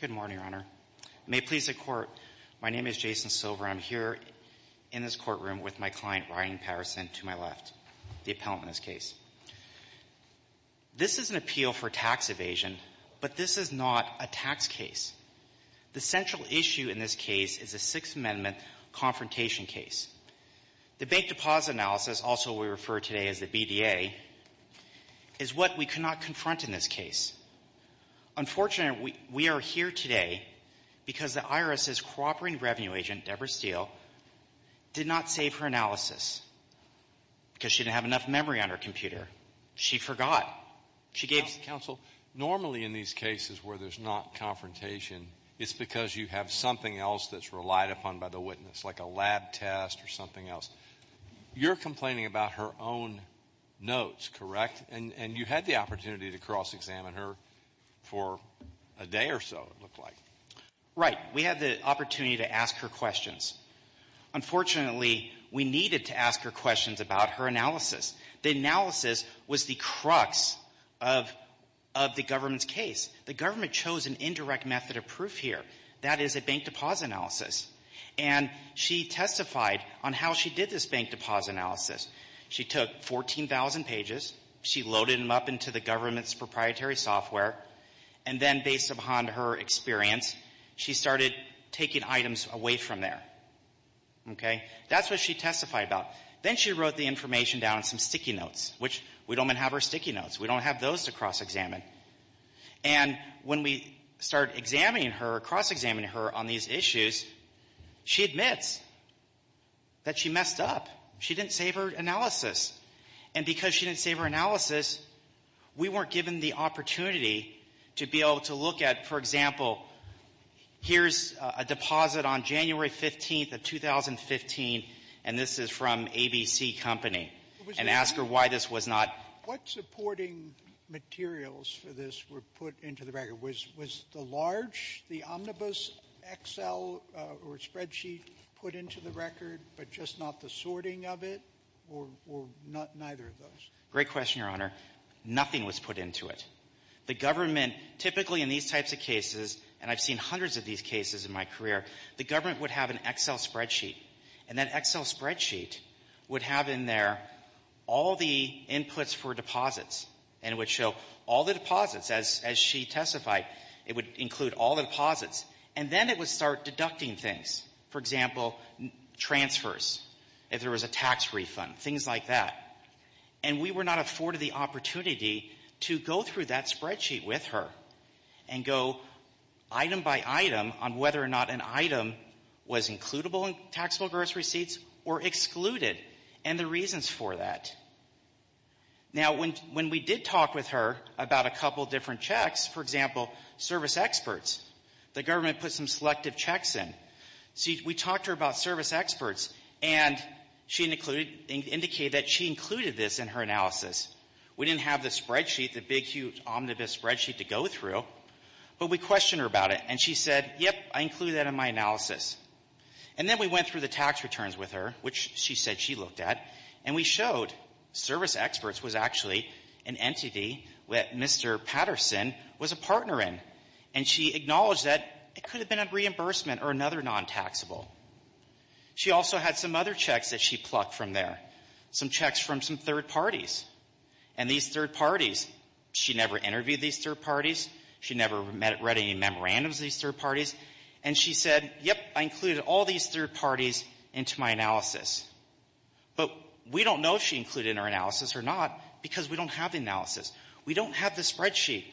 Good morning, Your Honor. May it please the Court, my name is Jason Silver. I'm here in this courtroom with my client, Ryan Patterson, to my left, the appellant in this case. This is an appeal for tax evasion, but this is not a tax case. The central issue in this case is a Sixth Amendment confrontation case. The Bank Deposit Analysis, also we refer today as the BDA, is what we could not confront in this case. Unfortunately, we are here today because the IRS's cooperating revenue agent, Deborah Steele, did not save her analysis because she didn't have enough memory on her computer. She forgot. She gave — You're complaining about her own notes, correct? And you had the opportunity to cross-examine her for a day or so, it looked like. We had the opportunity to ask her questions. Unfortunately, we needed to ask her questions about her analysis. The analysis was the crux of the government's case. The government chose an indirect method of proof here. That is a Bank Deposit Analysis, and she testified on how she did this Bank Deposit Analysis. She took 14,000 pages. She loaded them up into the government's proprietary software, and then based upon her experience, she started taking items away from there. Okay? That's what she testified about. Then she wrote the information down in some sticky notes, which we don't even have our sticky notes. We don't have those to cross-examine. And when we start examining her, cross-examining her on these issues, she admits that she messed up. She didn't save her analysis. And because she didn't save her analysis, we weren't given the opportunity to be able to look at, for example, here's a deposit on January 15th of 2015, and this is from ABC Company, and ask her why this was not — What supporting materials for this were put into the record? Was the large, the omnibus Excel or spreadsheet put into the record, but just not the sorting of it, or neither of those? Great question, Your Honor. Nothing was put into it. The government, typically in these types of cases, and I've seen hundreds of these cases in my career, the government would have an Excel spreadsheet. And that Excel spreadsheet would have in there all the inputs for deposits, and it would show all the deposits. As she testified, it would include all the deposits. And then it would start deducting things, for example, transfers, if there was a tax refund, things like that. And we were not afforded the opportunity to go through that spreadsheet with her and go item by item on whether or not an item was includable in taxable gross receipts or excluded, and the reasons for that. Now, when we did talk with her about a couple different checks, for example, service experts, the government put some selective checks in. See, we talked to her about service experts, and she included — indicated that she included this in her analysis. We didn't have the spreadsheet, the big, huge, omnibus spreadsheet to go through, but we questioned her about it. And she said, yep, I included that in my analysis. And then we went through the tax returns with her, which she said she looked at, and we showed service experts was actually an entity that Mr. Patterson was a partner in. And she acknowledged that it could have been a reimbursement or another non-taxable. She also had some other checks that she plucked from there, some checks from some third parties. And these third parties, she never interviewed these third parties. She never read any memorandums of these third parties. And she said, yep, I included all these third parties into my analysis. But we don't know if she included it in her analysis or not because we don't have the analysis. We don't have the spreadsheet.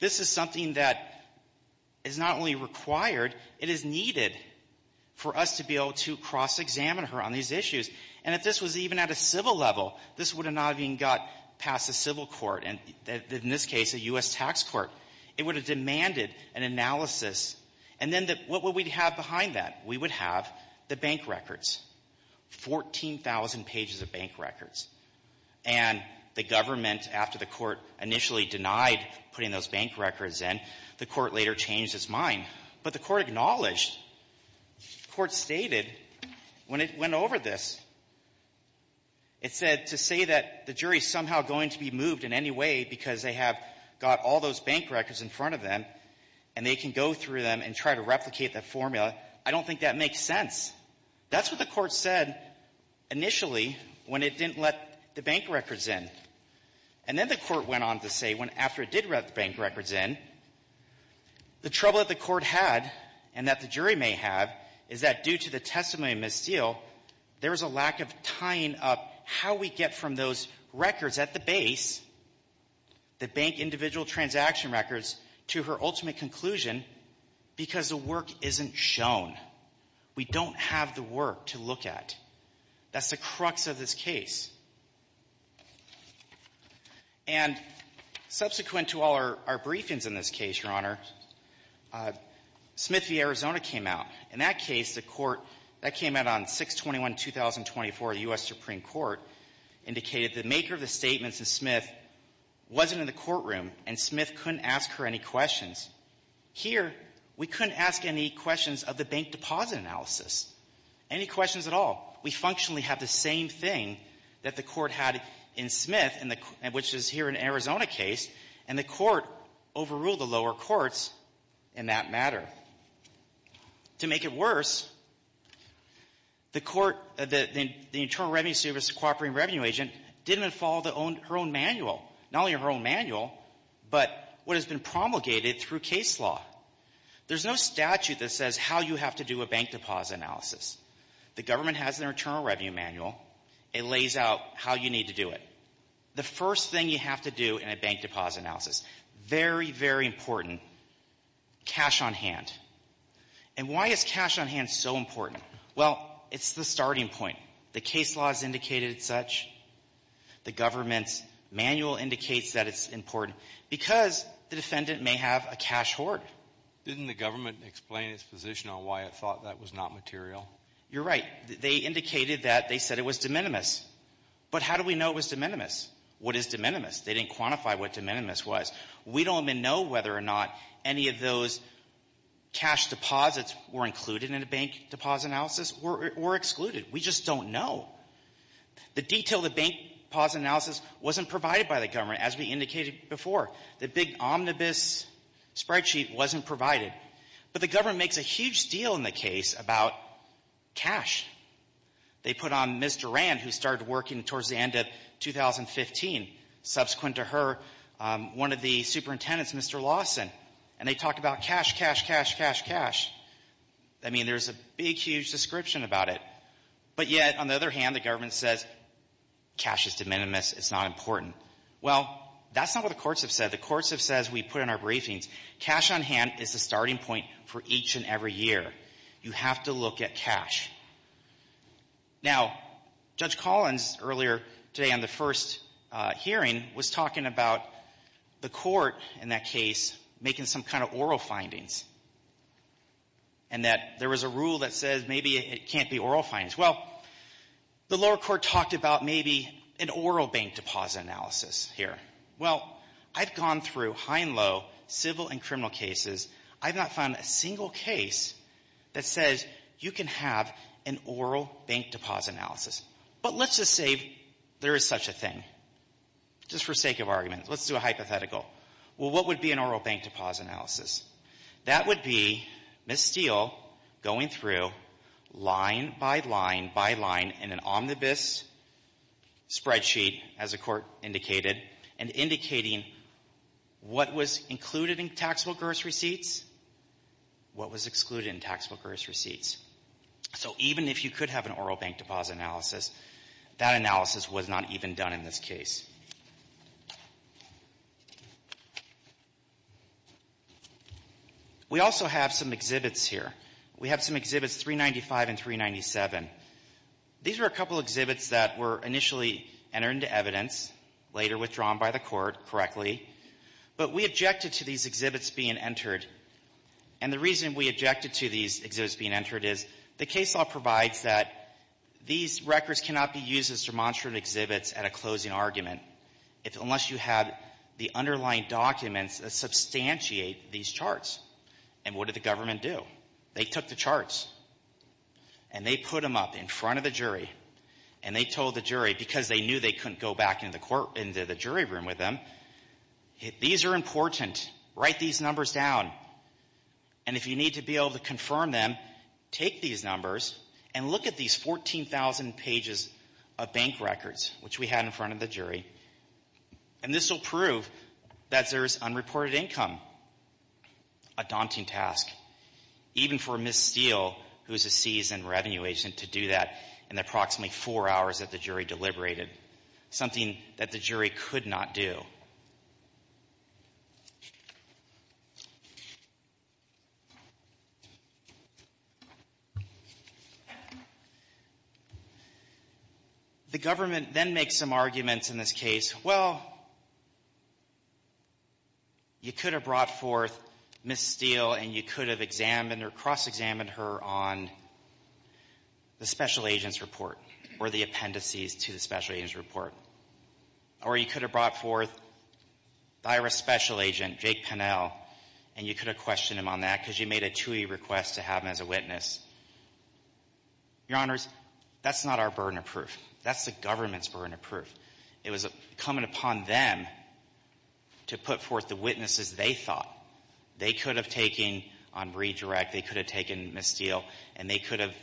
This is something that is not only required, it is needed for us to be able to cross-examine her on these issues. And if this was even at a civil level, this would have not even got past a civil court, and in this case, a U.S. tax court. It would have demanded an analysis. And then what would we have behind that? We would have the bank records, 14,000 pages of bank records. And the government, after the Court initially denied putting those bank records in, the Court later changed its mind. But the Court acknowledged what the Court stated when it went over this. It said to say that the jury is somehow going to be moved in any way because they have got all those bank records in front of them, and they can go through them and try to replicate that formula. I don't think that makes sense. That's what the Court said initially when it didn't let the bank records in. And then the Court went on to say when, after it did let the bank records in, the trouble that the Court had and that the jury may have is that due to the testimony of Ms. Steele, there was a lack of tying up how we get from those records at the base, the bank individual transaction records, to her ultimate conclusion because the work isn't shown. We don't have the work to look at. That's the crux of this case. And subsequent to all our briefings in this case, Your Honor, Smith v. Arizona came out. In that case, the Court, that came out on 6-21-2024. The U.S. Supreme Court indicated the maker of the statements in Smith wasn't in the courtroom, and Smith couldn't ask her any questions. Here, we couldn't ask any questions of the bank deposit analysis, any questions at all. We functionally have the same thing that the Court had in Smith, which is here in Arizona case, and the Court overruled the lower courts in that matter. To make it worse, the Court, the Internal Revenue Service cooperating revenue agent didn't follow her own manual, not only her case law. There's no statute that says how you have to do a bank deposit analysis. The government has an Internal Revenue Manual. It lays out how you need to do it. The first thing you have to do in a bank deposit analysis, very, very important, cash on hand. And why is cash on hand so important? Well, it's the starting point. The case law has indicated such. The government's manual indicates that it's important because the defendant may have a cash hoard. Didn't the government explain its position on why it thought that was not material? You're right. They indicated that. They said it was de minimis. But how do we know it was de minimis? What is de minimis? They didn't quantify what de minimis was. We don't even know whether or not any of those cash deposits were included in a bank deposit analysis or excluded. We just don't know. The detail of the bank deposit analysis wasn't provided by the government, as we indicated before. The big omnibus spreadsheet wasn't provided. But the government makes a huge deal in the case about cash. They put on Ms. Durand, who started working towards the end of 2015, subsequent to her, one of the superintendents, Mr. Lawson. And they talk about cash, cash, cash, cash, cash. I mean, there's a big, huge description about it. But yet, on the other hand, the government says cash is de minimis. It's not important. Well, that's not what the courts have said. The courts have said as we put in our briefings, cash on hand is the starting point for each and every year. You have to look at cash. Now, Judge Collins earlier today on the first hearing was talking about the court in that case making some kind of oral findings and that there was a rule that says maybe it can't be oral findings. Well, the lower court talked about maybe an oral bank deposit analysis here. Well, I've gone through high and low civil and criminal cases. I've not found a single case that says you can have an oral bank deposit analysis. But let's just say there is such a thing, just for sake of argument. Let's do a hypothetical. Well, what would be an oral bank deposit analysis? That would be Ms. Steele going through line by line by line in an omnibus spreadsheet, as the court indicated, and indicating what was included in tax workers' receipts, what was excluded in tax workers' receipts. So even if you could have an oral bank deposit analysis, that analysis was not even done in this case. We also have some exhibits here. We have some exhibits 395 and 397. These are a couple exhibits that were initially entered into evidence, later withdrawn by the court correctly. But we objected to these exhibits being entered. And the reason we objected to these exhibits being entered is the case law provides that these records cannot be used as demonstrative exhibits at a closing argument unless you have the underlying documents that substantiate these charts. And what did the government do? They took the charts, and they put them up in front of the jury, and they told the jury, because they knew they couldn't go back into the jury room with them, these are important. Write these numbers down. And if you need to be able to confirm them, take these numbers and look at these 14,000 pages of bank history, and this will prove that there is unreported income, a daunting task, even for Ms. Steele, who is a seasoned revenue agent, to do that in the approximately four hours that the jury deliberated, something that the jury could not do. The government then makes some arguments in this case. Well, you could have brought forth Ms. Steele, and you could have examined or cross-examined her on the special agent's report or the appendices to the special agent's report. Or you could have brought forth the IRS special agent, Jake Pennell, and you could have questioned him on that because you made a TUI request to have him as a witness. Your Honors, that's not our burden of proof. That's the government's burden of proof. It was coming upon them to put forth the witnesses they thought they could have taken on redirect, they could have taken Ms. Steele, and they could have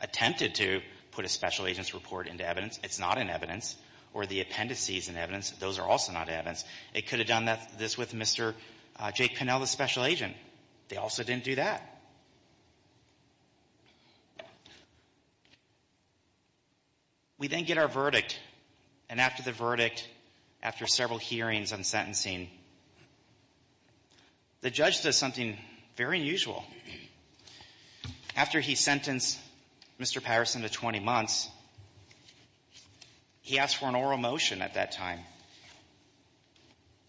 attempted to put the special agent's report into evidence. It's not in evidence, or the appendices in evidence, those are also not evidence. It could have done this with Mr. Jake Pennell, the special agent. They also didn't do that. We then get our verdict, and after the verdict, after several hearings and sentencing, the judge does something very unusual. After he sentenced Mr. Patterson to 20 months, he asked for an oral motion at that time,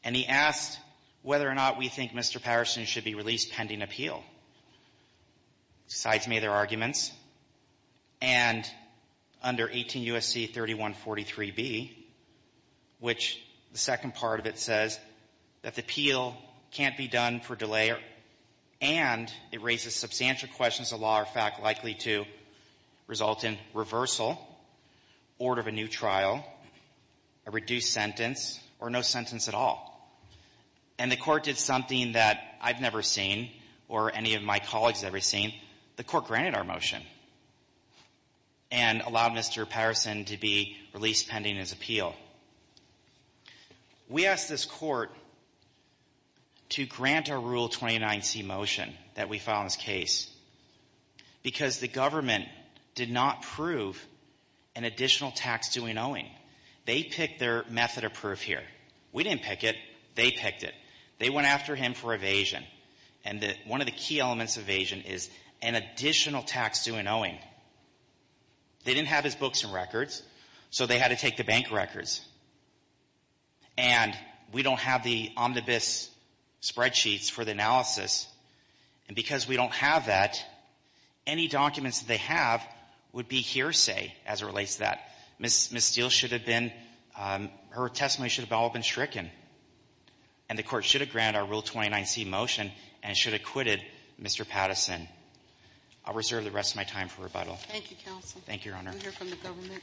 and he asked whether or not we think Mr. Patterson should be released pending appeal. Sides made their arguments, and under 18 U.S.C. 3143b, which the second part of it says, that the appeal can't be done for delay, and it raises substantial questions the law are, in fact, likely to result in reversal, order of a new trial, a reduced sentence, or no sentence at all. And the Court did something that I've never seen or any of my colleagues have ever seen. The Court granted our motion and allowed Mr. Patterson to be released pending his appeal. We asked this Court to grant our Rule 29c motion that we filed in this case because the government did not prove an additional tax-due in owing. They picked their method of proof here. We didn't pick it. They picked it. They went after him for evasion. And one of the key elements of evasion is an additional tax-due in owing. They didn't have his books and records, so they had to take the bank records. And we don't have the omnibus spreadsheets for the analysis. And because we don't have that, any documents that they have would be hearsay as it relates to that. Ms. Steele should have been — her testimony should have all been stricken, and the Court should have granted our Rule 29c motion and should have acquitted Mr. Patterson. I'll reserve the rest of my time for rebuttal. Thank you, counsel. Thank you, Your Honor. I'm here for the government.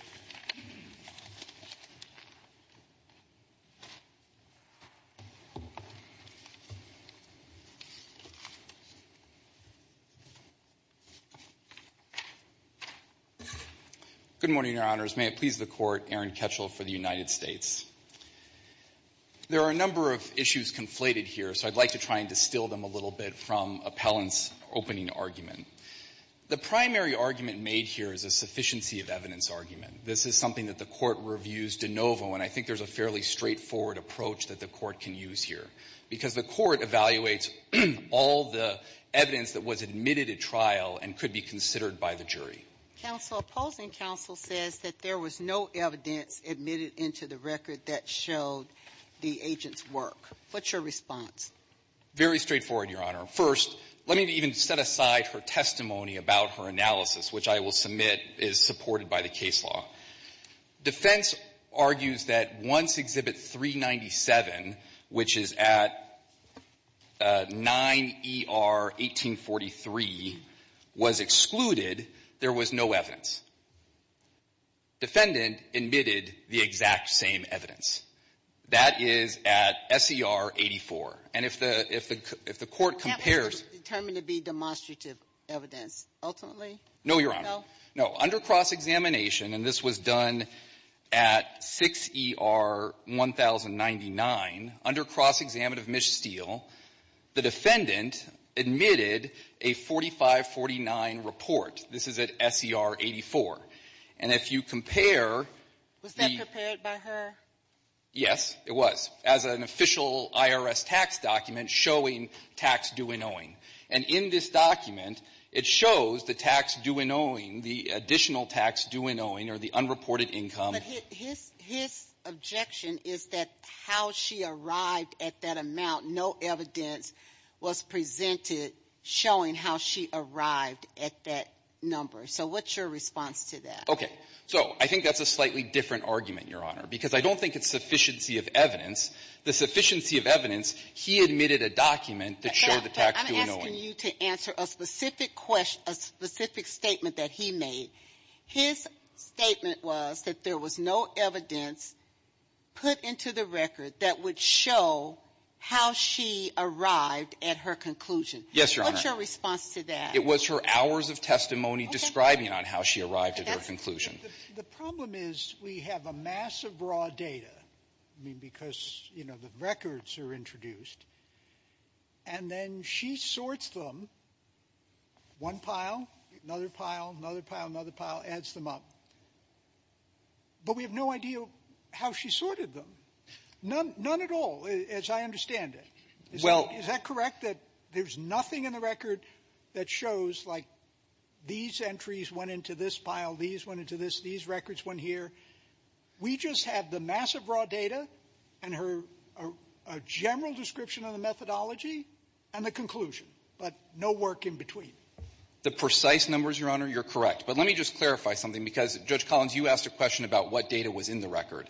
Good morning, Your Honors. May it please the Court, Aaron Ketchel for the United States. There are a number of issues conflated here, so I'd like to try and distill them a little bit from Appellant's opening argument. The primary argument made here is a sufficiency of evidence argument. This is something that the Court reviews de novo, and I think there's a fairly straightforward approach that the Court can use here, because the Court evaluates all the evidence that was admitted at trial and could be considered by the jury. Counsel, opposing counsel says that there was no evidence admitted into the record that showed the agent's work. What's your response? Very straightforward, Your Honor. First, let me even set aside her testimony about her analysis, which I will submit is supported by the case law. Defense argues that once Exhibit 397, which is at 9ER-1843, was excluded, there was no evidence. Defendant admitted the exact same evidence. That is at SER-84. And if the Court compares to the other evidence, there is no evidence. That was determined to be demonstrative evidence, ultimately? No, Your Honor. No? No. Under cross-examination, and this was done at 6ER-1099, under cross-examination of Ms. Steele, the defendant admitted a 45-49 report. This is at SER-84. And if you compare the — Was that prepared by her? Yes, it was, as an official IRS tax document showing tax due and owing. And in this document, it shows the tax due and owing, the additional tax due and owing, or the unreported income. But his objection is that how she arrived at that amount, no evidence was presented showing how she arrived at that number. So what's your response to that? Okay. So I think that's a slightly different argument, Your Honor, because I don't think it's sufficiency of evidence. The sufficiency of evidence, he admitted a document that showed the tax due and owing. I'm asking you to answer a specific question, a specific statement that he made. His statement was that there was no evidence put into the record that would show how she arrived at her conclusion. Yes, Your Honor. What's your response to that? It was her hours of testimony describing on how she arrived at her conclusion. The problem is we have a massive raw data, I mean, because, you know, the records are introduced, and then she sorts them, one pile, another pile, another pile, another pile, adds them up. But we have no idea how she sorted them. None at all, as I understand it. Well ---- Is that correct, that there's nothing in the record that shows, like, these entries went into this pile, these went into this, these records went here? We just have the record and her general description of the methodology and the conclusion, but no work in between? The precise numbers, Your Honor, you're correct. But let me just clarify something, because, Judge Collins, you asked a question about what data was in the record.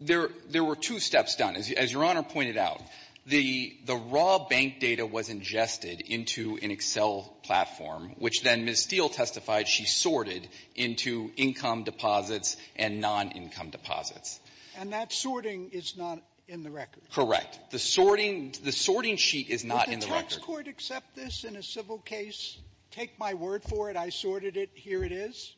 There were two steps done, as Your Honor pointed out. The raw bank data was ingested into an Excel platform, which then Ms. Steele testified that she sorted into income deposits and non-income deposits. And that sorting is not in the record? Correct. The sorting ---- the sorting sheet is not in the record. Did the tax court accept this in a civil case? Take my word for it. I sorted it. Here it is.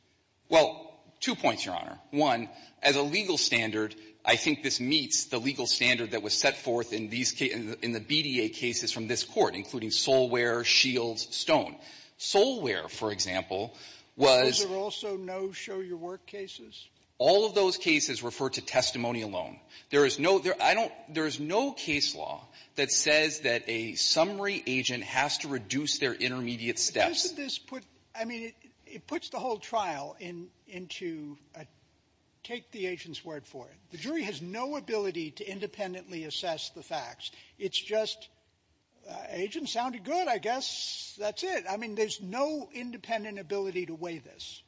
Well, two points, Your Honor. One, as a legal standard, I think this meets the legal standard that was set forth in these cases ---- in the BDA cases from this Court, including Solware, Shields, Stone. Solware, for example, was ---- Are there also no show-your-work cases? All of those cases refer to testimony alone. There is no ---- I don't ---- there is no case law that says that a summary agent has to reduce their intermediate steps. Doesn't this put ---- I mean, it puts the whole trial into a ---- take the agent's word for it. The jury has no ability to independently assess the facts. It's just agent sounded good. I guess that's it. I mean, there's no independent ability to weigh this.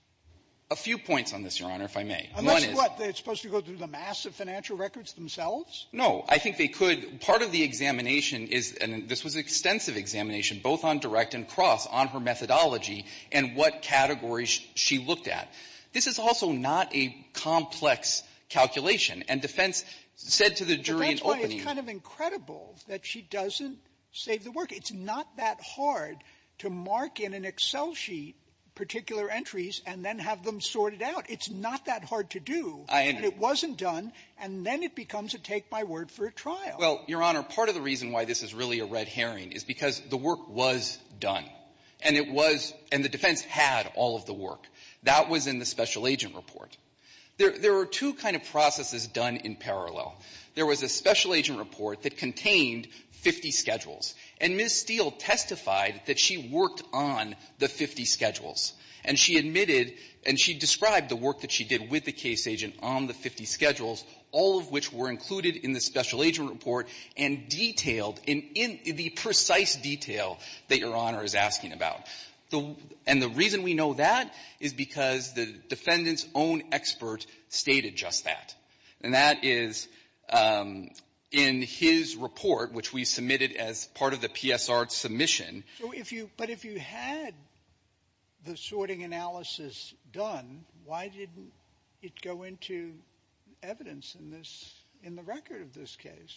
A few points on this, Your Honor, if I may. Unless, what, it's supposed to go through the mass of financial records themselves? No. I think they could. Part of the examination is an ---- this was an extensive examination, both on direct and cross, on her methodology and what categories she looked at. This is also not a complex calculation. And defense said to the jury in opening ---- But that's why it's kind of incredible that she doesn't save the work. It's not that hard to mark in an Excel sheet particular entries and then have them sorted out. It's not that hard to do. And it wasn't done. And then it becomes a take my word for a trial. Well, Your Honor, part of the reason why this is really a red herring is because the work was done. And it was ---- and the defense had all of the work. That was in the special agent report. There are two kind of processes done in parallel. There was a special agent report that contained 50 schedules. And Ms. Steele testified that she worked on the 50 schedules. And she admitted and she described the work that she did with the case agent on the 50 schedules, all of which were included in the special agent report and detailed in the precise detail that Your Honor is asking about. And the reason we know that is because the defendant's own expert stated just that. And that is in his report, which we submitted as part of the PSR submission ---- Sotomayor, but if you had the sorting analysis done, why didn't it go into evidence in this ---- in the record of this case?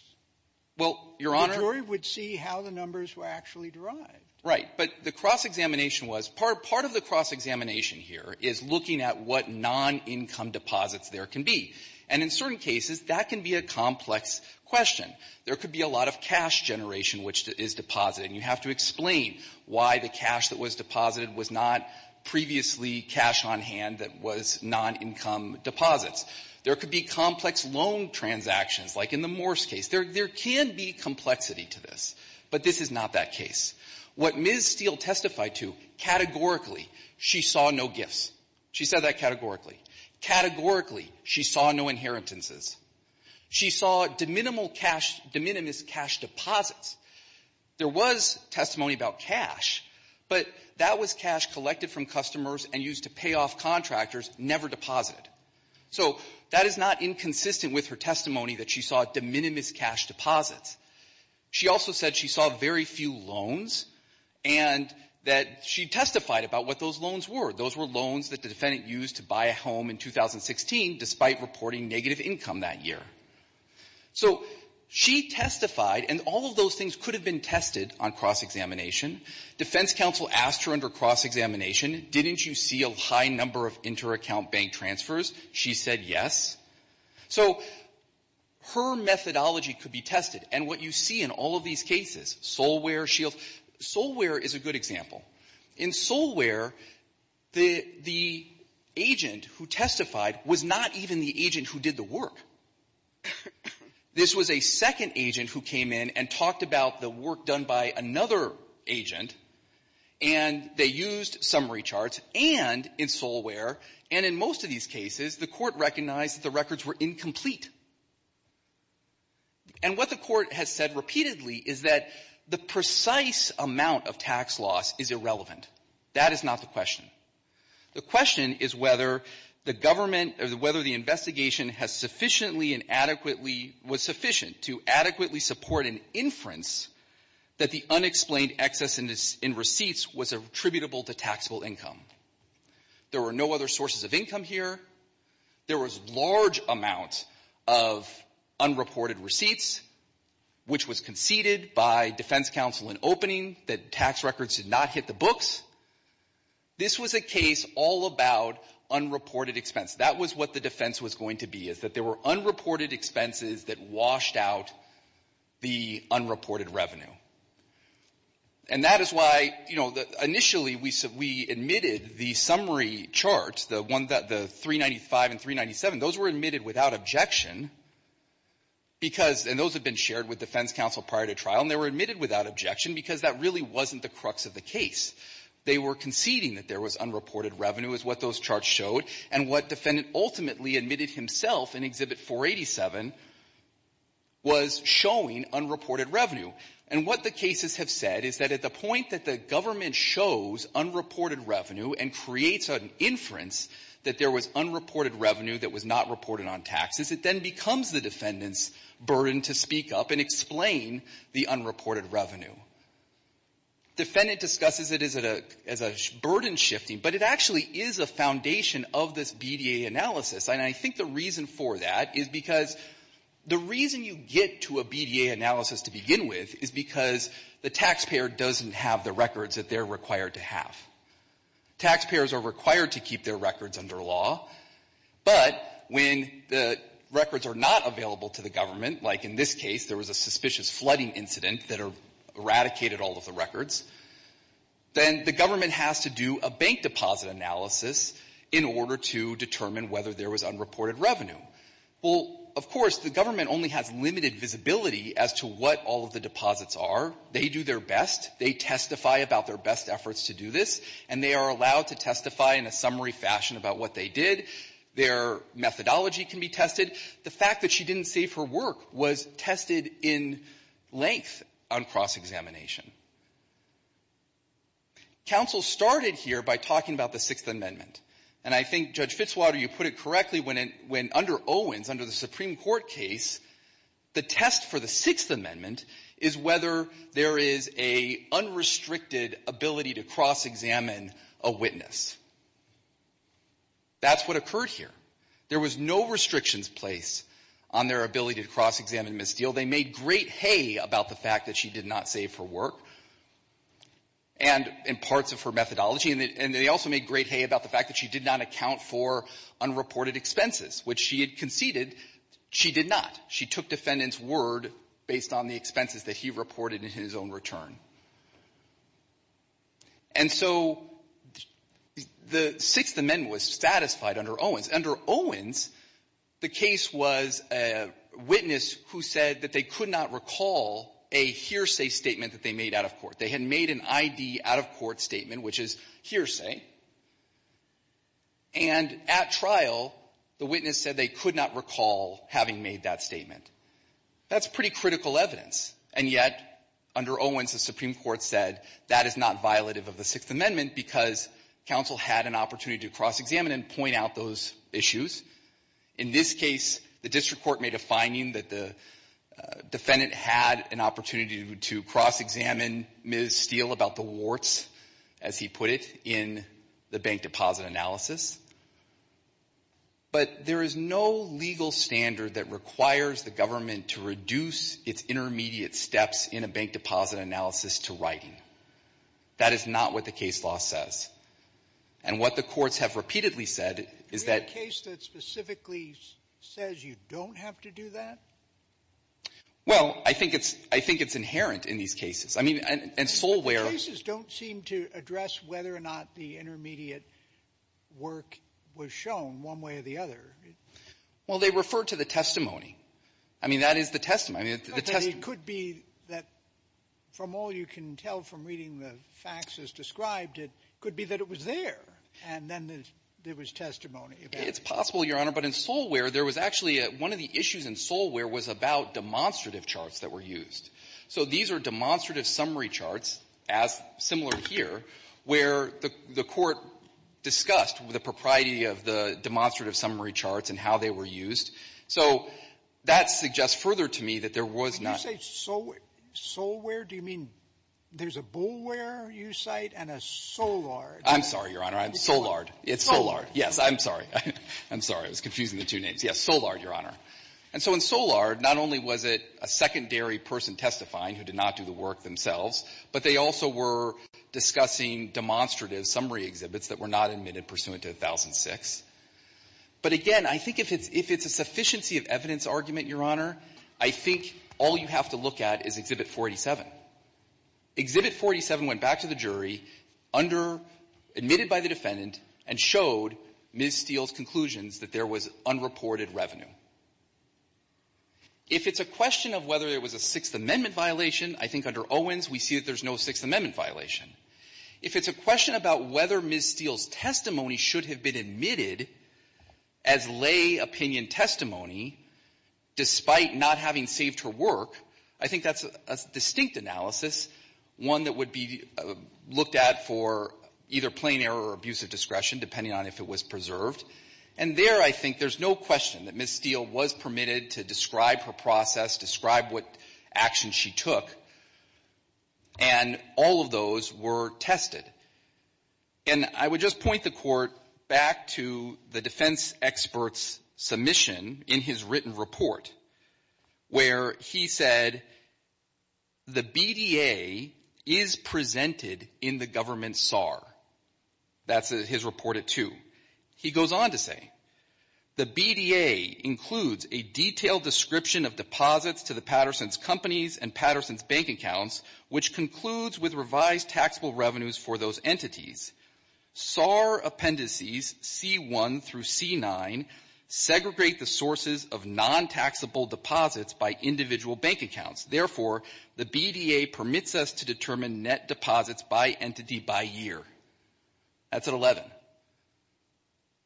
Well, Your Honor ---- The jury would see how the numbers were actually derived. Right. But the cross-examination was ---- part of the cross-examination here is looking at what non-income deposits there can be. And in certain cases, that can be a complex question. There could be a lot of cash generation which is deposited. And you have to explain why the cash that was deposited was not previously cash on hand that was non-income deposits. There could be complex loan transactions, like in the Morse case. There can be complexity to this. But this is not that case. What Ms. Steele testified to categorically, she saw no gifts. She said that categorically. Categorically, she saw no inheritances. She saw de minimis cash deposits. There was testimony about cash, but that was cash collected from customers and used to pay off contractors, never deposited. So that is not inconsistent with her testimony that she saw de minimis cash deposits. She also said she saw very few loans and that she testified about what those loans were. Those were loans that the defendant used to buy a home in 2016 despite reporting negative income that year. So she testified, and all of those things could have been tested on cross-examination. Defense counsel asked her under cross-examination, didn't you see a high number of inter-account bank transfers? She said yes. So her methodology could be tested. And what you see in all of these cases, Solware, Shields, Solware is a good example. In Solware, the agent who testified was not even the agent who did the work. This was a second agent who came in and talked about the work done by another agent, and they used summary charts, and in Solware, and in most of these cases, the Court recognized that the records were incomplete. And what the Court has said repeatedly is that the precise amount of tax loss is a record that is irrelevant. That is not the question. The question is whether the government or whether the investigation has sufficiently and adequately was sufficient to adequately support an inference that the unexplained excess in receipts was attributable to taxable income. There were no other sources of income here. There was large amount of unreported receipts, which was conceded by defense counsel in opening, that tax records did not hit the books. This was a case all about unreported expense. That was what the defense was going to be, is that there were unreported expenses that washed out the unreported revenue. And that is why, you know, initially, we admitted the summary charts, the 395 and 397. Those were admitted without objection because, and those have been shared with defense counsel prior to trial, and they were admitted without objection because that really wasn't the crux of the case. They were conceding that there was unreported revenue is what those charts showed, and what defendant ultimately admitted himself in Exhibit 487 was showing unreported revenue. And what the cases have said is that at the point that the government shows unreported revenue and creates an inference that there was unreported revenue that was not reported on taxes, it then becomes the defendant's burden to speak up and explain the unreported revenue. Defendant discusses it as a burden shifting, but it actually is a foundation of this BDA analysis, and I think the reason for that is because the reason you get to a BDA analysis to begin with is because the taxpayer doesn't have the records that they're required to have. Taxpayers are required to keep their records under law, but when the records are not available to the government, like in this case, there was a suspicious flooding incident that eradicated all of the records, then the government has to do a bank deposit analysis in order to determine whether there was unreported revenue. Well, of course, the government only has limited visibility as to what all of the deposits are. They do their best. They testify about their best efforts to do this, and they are allowed to testify in a summary fashion about what they did. Their methodology can be tested. The fact that she didn't save her work was tested in length on cross-examination. Counsel started here by talking about the Sixth Amendment, and I think, Judge Fitzwater, you put it correctly when under Owens, under the Supreme Court case, the test for the Sixth Amendment is whether there is a unrestricted ability to cross-examine a witness. That's what occurred here. There was no restrictions placed on their ability to cross-examine Ms. Steele. They made great hay about the fact that she did not save her work and parts of her methodology, and they also made great hay about the fact that she did not account for unreported expenses, which she had conceded she did not. She took defendant's word based on the expenses that he reported in his own return. And so the Sixth Amendment was satisfied under Owens. Under Owens, the case was a witness who said that they could not recall a hearsay statement that they made out of court. They had made an I.D. out-of-court statement, which is hearsay. And at trial, the witness said they could not recall having made that statement. That's pretty critical evidence. And yet, under Owens, the Supreme Court said that is not violative of the Sixth Amendment because counsel had an opportunity to cross-examine and point out those issues. In this case, the district court made a finding that the defendant had an opportunity to cross-examine Ms. Steele about the warts, as he put it, in the bank deposit analysis. But there is no legal standard that requires the government to reduce its intermediate steps in a bank deposit analysis to writing. That is not what the case law says. And what the courts have repeatedly said is that — Do we have a case that specifically says you don't have to do that? Well, I think it's — I think it's inherent in these cases. I mean, in Solware — But the cases don't seem to address whether or not the intermediate work was shown one way or the other. Well, they refer to the testimony. I mean, that is the testimony. The testimony — But it could be that, from all you can tell from reading the facts as described, it could be that it was there, and then there was testimony. It's possible, Your Honor. But in Solware, there was actually a — one of the issues in Solware was about demonstrative charts that were used. So these are demonstrative summary charts, as similar here, where the court discussed the propriety of the demonstrative summary charts and how they were used. So that suggests further to me that there was not — When you say Solware, do you mean there's a Bulware, you cite, and a Solard? I'm sorry, Your Honor. I'm Solard. It's Solard. Yes. I'm sorry. I'm sorry. I was confusing the two names. Yes. Solard, Your Honor. And so in Solard, not only was it a secondary person testifying who did not do the work themselves, but they also were discussing demonstrative summary exhibits that were not admitted pursuant to 1006. But again, I think if it's a sufficiency of evidence argument, Your Honor, I think all you have to look at is Exhibit 487. Exhibit 487 went back to the jury under — admitted by the defendant and showed Ms. Steele's conclusions that there was unreported revenue. If it's a question of whether there was a Sixth Amendment violation, I think under Owens, we see that there's no Sixth Amendment violation. If it's a question about whether Ms. Steele's testimony should have been admitted as lay opinion testimony, despite not having saved her work, I think that's a distinct analysis, one that would be looked at for either plain error or abusive discretion, depending on if it was preserved. And there, I think, there's no question that Ms. Steele was permitted to describe her process, describe what action she took. And all of those were tested. And I would just point the Court back to the defense expert's submission in his written report, where he said, the BDA is presented in the government SAR. That's his report at two. He goes on to say, the BDA includes a detailed description of deposits to the Patterson's companies and Patterson's bank accounts, which concludes with revised taxable revenues for those entities. SAR appendices C1 through C9 segregate the sources of non-taxable deposits by individual bank accounts. Therefore, the BDA permits us to determine net deposits by entity by year. That's at 11.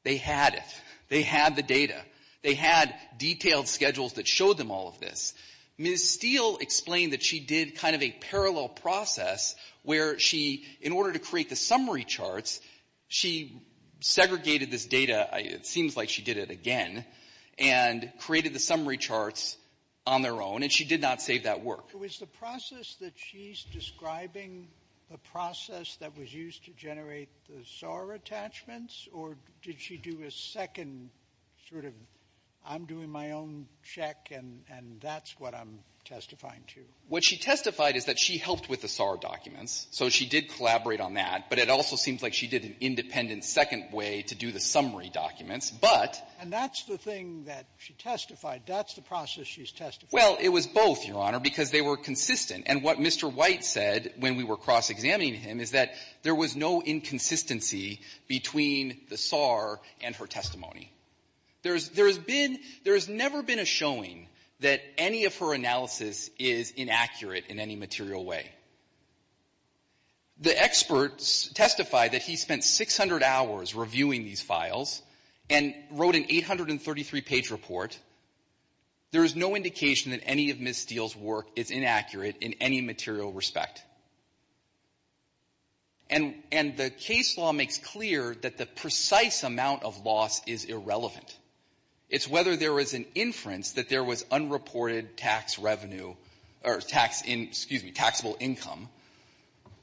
They had it. They had the data. They had detailed schedules that showed them all of this. Ms. Steele explained that she did kind of a parallel process where she, in order to create the summary charts, she segregated this data seems like she did it again, and created the summary charts on their own, and she did not save that work. Sotomayor, was the process that she's describing the process that was used to generate the SAR attachments, or did she do a second sort of, I'm doing my own check, and that's what I'm testifying to? What she testified is that she helped with the SAR documents. So she did collaborate on that. But it also seems like she did an independent second way to do the summary documents. But — And that's the thing that she testified. That's the process she's testifying. Well, it was both, Your Honor, because they were consistent. And what Mr. White said when we were cross-examining him is that there was no inconsistency between the SAR and her testimony. There's been — there has never been a showing that any of her analysis is inaccurate in any material way. The experts testified that he spent 600 hours reviewing these files, and wrote an 833-page report. There is no indication that any of Ms. Steele's work is inaccurate in any material respect. And — and the case law makes clear that the precise amount of loss is irrelevant. It's whether there was an inference that there was unreported tax revenue — or tax in — excuse me, taxable income,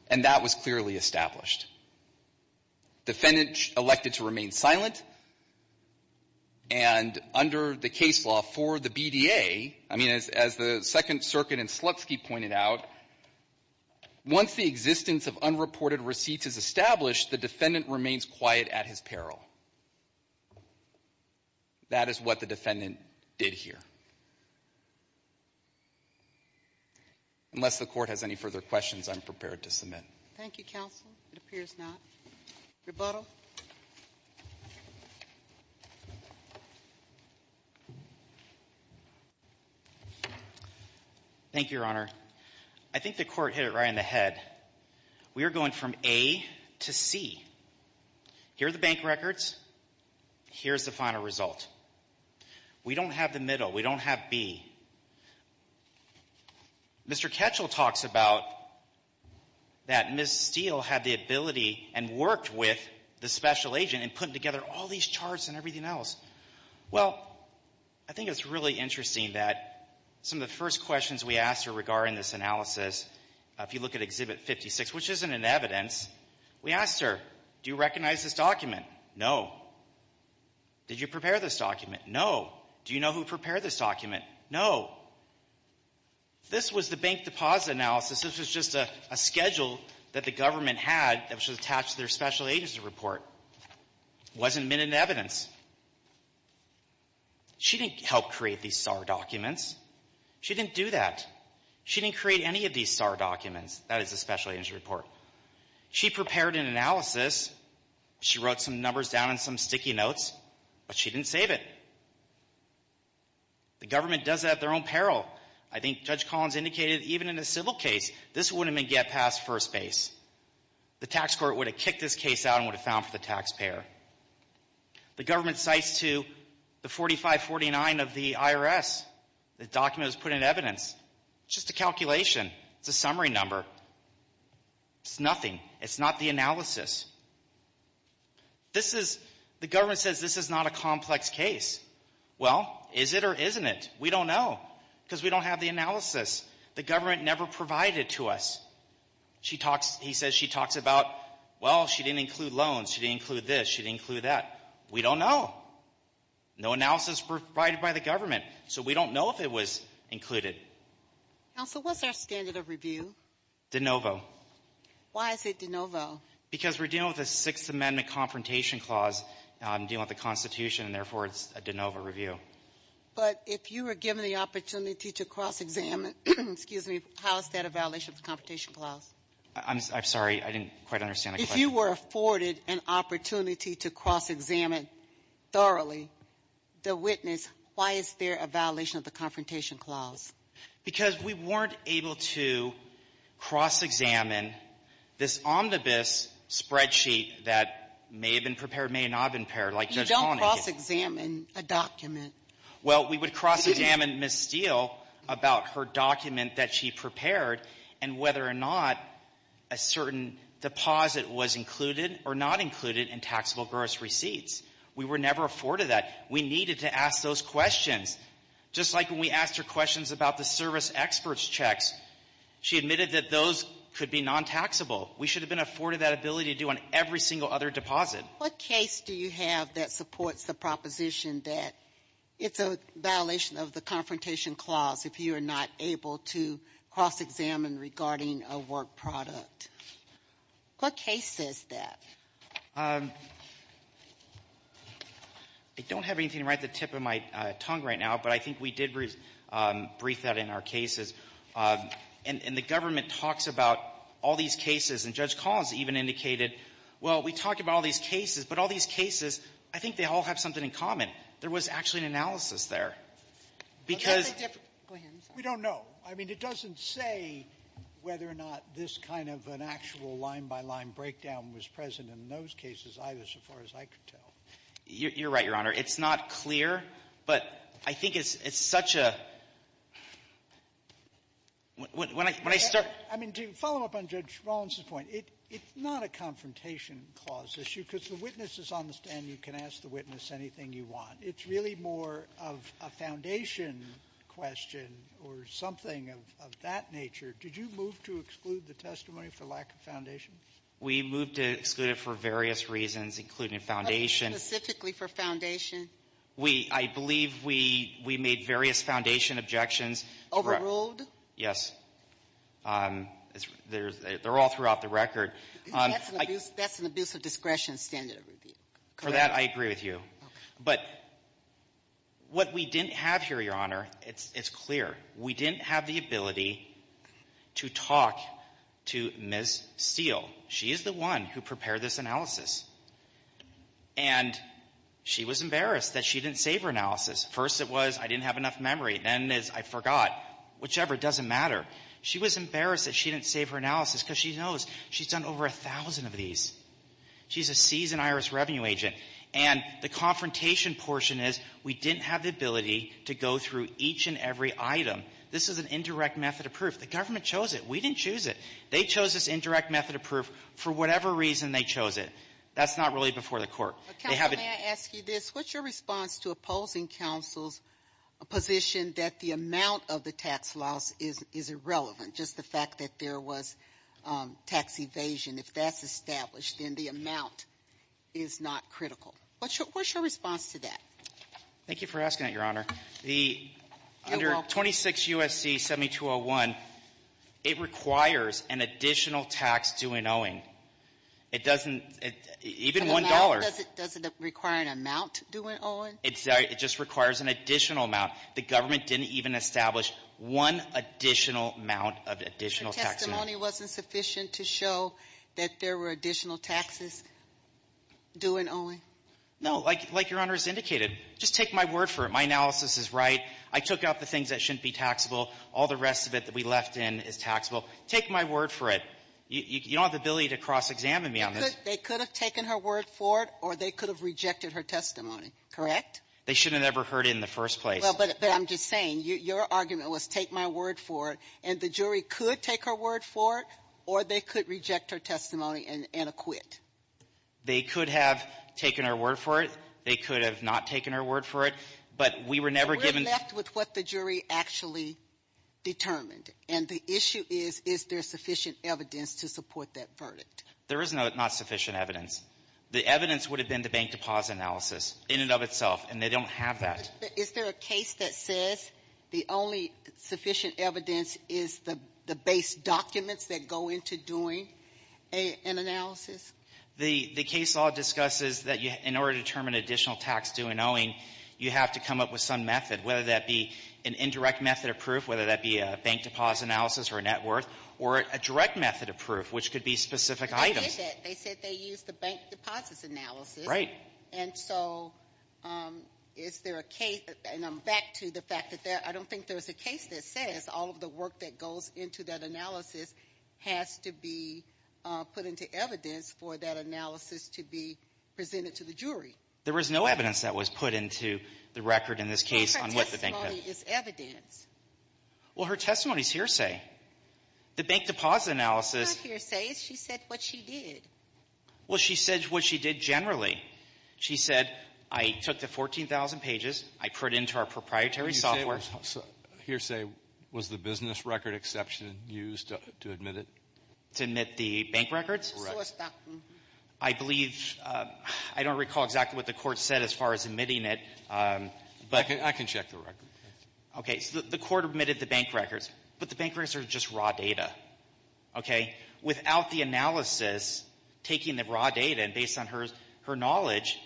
and that was clearly established. Defendant elected to remain silent. And under the case law for the BDA, I mean, as the Second Circuit and Slutsky pointed out, once the existence of unreported receipts is established, the defendant remains quiet at his peril. That is what the defendant did here. Unless the Court has any further questions, I'm prepared to submit. Thank you, Counsel. It appears not. Rebuttal. Thank you, Your Honor. I think the Court hit it right in the head. We are going from A to C. Here are the bank records. Here's the final result. We don't have the middle. We don't have B. Mr. Ketchell talks about that Ms. Steele had the ability and worked with the special agent in putting together all these charts and everything else. Well, I think it's really interesting that some of the first questions we asked her regarding this analysis, if you look at Exhibit 56, which isn't in evidence, we asked her, do you recognize this document? No. Did you prepare this document? No. Do you know who prepared this document? No. This was the Bank Deposit Analysis. This was just a schedule that the government had that was attached to their special agency report. Wasn't in evidence. She didn't help create these SAR documents. She didn't do that. She didn't create any of these SAR documents. That is the special agency report. She prepared an analysis. She wrote some numbers down in some sticky notes, but she didn't save it. The government does that at their own peril. I think Judge Collins indicated even in a civil case, this wouldn't have been get past first base. The tax court would have kicked this case out and would have found for the taxpayer. The government cites to the 4549 of the IRS. The document was put in evidence. It's just a calculation. It's a summary number. It's nothing. It's not the analysis. This is the government says this is not a complex case. Well, is it or isn't it? We don't know because we don't have the analysis. The government never provided to us. She talks. He says she talks about, well, she didn't include loans. She didn't include this. She didn't include that. We don't know. No analysis provided by the government. So we don't know if it was included. Also, what's our standard of review? De novo. Why is it de novo? Why is it a violation of the Confrontation Clause? I'm dealing with the Constitution, and, therefore, it's a de novo review. But if you were given the opportunity to cross-examine, excuse me, how is that a violation of the Confrontation Clause? I'm sorry. I didn't quite understand the question. If you were afforded an opportunity to cross-examine thoroughly the witness, why is there a violation of the Confrontation Clause? Because we weren't able to cross-examine this omnibus spreadsheet that may have been prepared, may have not been prepared, like Judge Polanyi did. You don't cross-examine a document. Well, we would cross-examine Ms. Steele about her document that she prepared and whether or not a certain deposit was included or not included in taxable gross receipts. We were never afforded that. We needed to ask those questions. Just like when we asked her questions about the service experts' checks, she admitted that those could be non-taxable. We should have been afforded that ability to do on every single other deposit. What case do you have that supports the proposition that it's a violation of the Confrontation Clause if you are not able to cross-examine regarding a work product? What case says that? I don't have anything right at the tip of my tongue right now, but I think we did briefly brief that in our cases. And the government talks about all these cases. And Judge Collins even indicated, well, we talk about all these cases, but all these cases, I think they all have something in common. There was actually an analysis there. Because we don't know. I mean, it doesn't say whether or not this kind of an actual line-by-line breakdown was present in those cases, either, so far as I could tell. You're right, Your Honor. It's not clear, but I think it's such a — when I start — I mean, to follow up on Judge Rollins's point, it's not a Confrontation Clause issue because the witness is on the stand. You can ask the witness anything you want. It's really more of a Foundation question or something of that nature. Did you move to exclude the testimony for lack of Foundation? We moved to exclude it for various reasons, including Foundation. Specifically for Foundation? We — I believe we made various Foundation objections. Overruled? Yes. They're all throughout the record. That's an abuse of discretion standard of review. Correct. For that, I agree with you. But what we didn't have here, Your Honor, it's clear. We didn't have the ability to talk to Ms. Steele. She is the one who prepared this analysis. And she was embarrassed that she didn't save her analysis. First it was, I didn't have enough memory. Then it's, I forgot. Whichever. It doesn't matter. She was embarrassed that she didn't save her analysis because she knows she's done over a thousand of these. She's a seasoned IRS revenue agent. And the Confrontation portion is, we didn't have the ability to go through each and every item. This is an indirect method of proof. The government chose it. We didn't choose it. They chose this indirect method of proof for whatever reason they chose it. That's not really before the court. They have it. Counsel, may I ask you this? What's your response to opposing counsel's position that the amount of the tax loss is irrelevant, just the fact that there was tax evasion? If that's established, then the amount is not critical. What's your response to that? Thank you for asking that, Your Honor. The under 26 U.S.C. 7201, it requires an additional tax due and owing. It doesn't — even $1. Does it require an amount due and owing? It's — it just requires an additional amount. The government didn't even establish one additional amount of additional tax. Your testimony wasn't sufficient to show that there were additional taxes due and owing? No. Like — like Your Honor has indicated, just take my word for it. My analysis is right. I took out the things that shouldn't be taxable. All the rest of it that we left in is taxable. Take my word for it. You don't have the ability to cross-examine me on this. They could have taken her word for it, or they could have rejected her testimony, correct? They shouldn't have ever heard it in the first place. Well, but I'm just saying, your argument was take my word for it, and the jury could take her word for it, or they could reject her testimony and acquit. They could have taken her word for it. They could have not taken her word for it. But we were never given — We're left with what the jury actually determined. And the issue is, is there sufficient evidence to support that verdict? There is not sufficient evidence. The evidence would have been the bank deposit analysis in and of itself. And they don't have that. Is there a case that says the only sufficient evidence is the base documents that go into doing an analysis? The case law discusses that in order to determine additional tax due and owing, you have to come up with some method, whether that be an indirect method of proof, whether that be a bank deposit analysis or a net worth, or a direct method of proof, which could be specific items. But they did that. They said they used the bank deposit analysis. Right. And so is there a case — and I'm back to the fact that there — I don't think there's a case that says all of the work that goes into that analysis has to be put into evidence for that analysis to be presented to the jury. There was no evidence that was put into the record in this case on what the bank — Well, her testimony is hearsay. The bank deposit analysis — It's not hearsay. She said what she did. Well, she said what she did generally. She said, I took the 14,000 pages, I put it into our proprietary software. So hearsay was the business record exception used to admit it? To admit the bank records? Correct. So it's not — I believe — I don't recall exactly what the Court said as far as admitting it, but — I can check the record. Okay. So the Court admitted the bank records, but the bank records are just raw data. Okay? Without the analysis, taking the raw data, and based on her knowledge,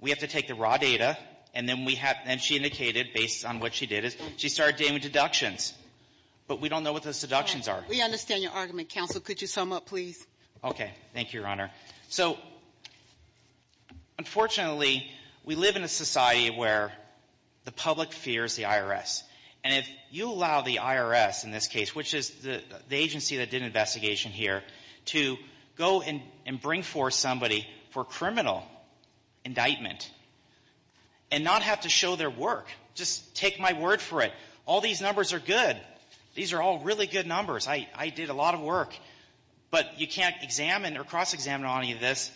we have to take the raw data, and then we have — and she indicated, based on what she did, is she started doing deductions. But we don't know what those deductions are. We understand your argument. Counsel, could you sum up, please? Okay. Thank you, Your Honor. So, unfortunately, we live in a society where the public fears the IRS. And if you allow the IRS, in this case, which is the agency that did an investigation here, to go and bring forth somebody for criminal indictment and not have to show their work, just take my word for it, all these numbers are good. These are all really good numbers. I did a lot of work. But you can't examine or cross-examine on any of this.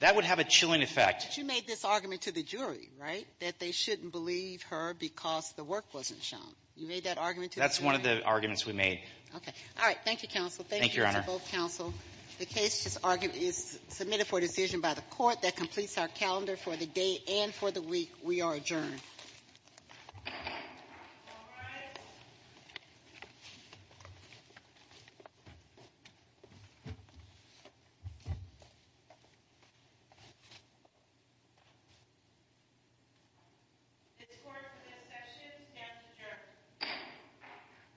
That would have a chilling effect. But you made this argument to the jury, right, that they shouldn't believe her because the work wasn't shown. You made that argument to the jury? That's one of the arguments we made. Okay. All right. Thank you, Counsel. Thank you to both counsel. The case is submitted for decision by the Court. That completes our calendar for the day and for the week. We are adjourned. This court for this session stands adjourned.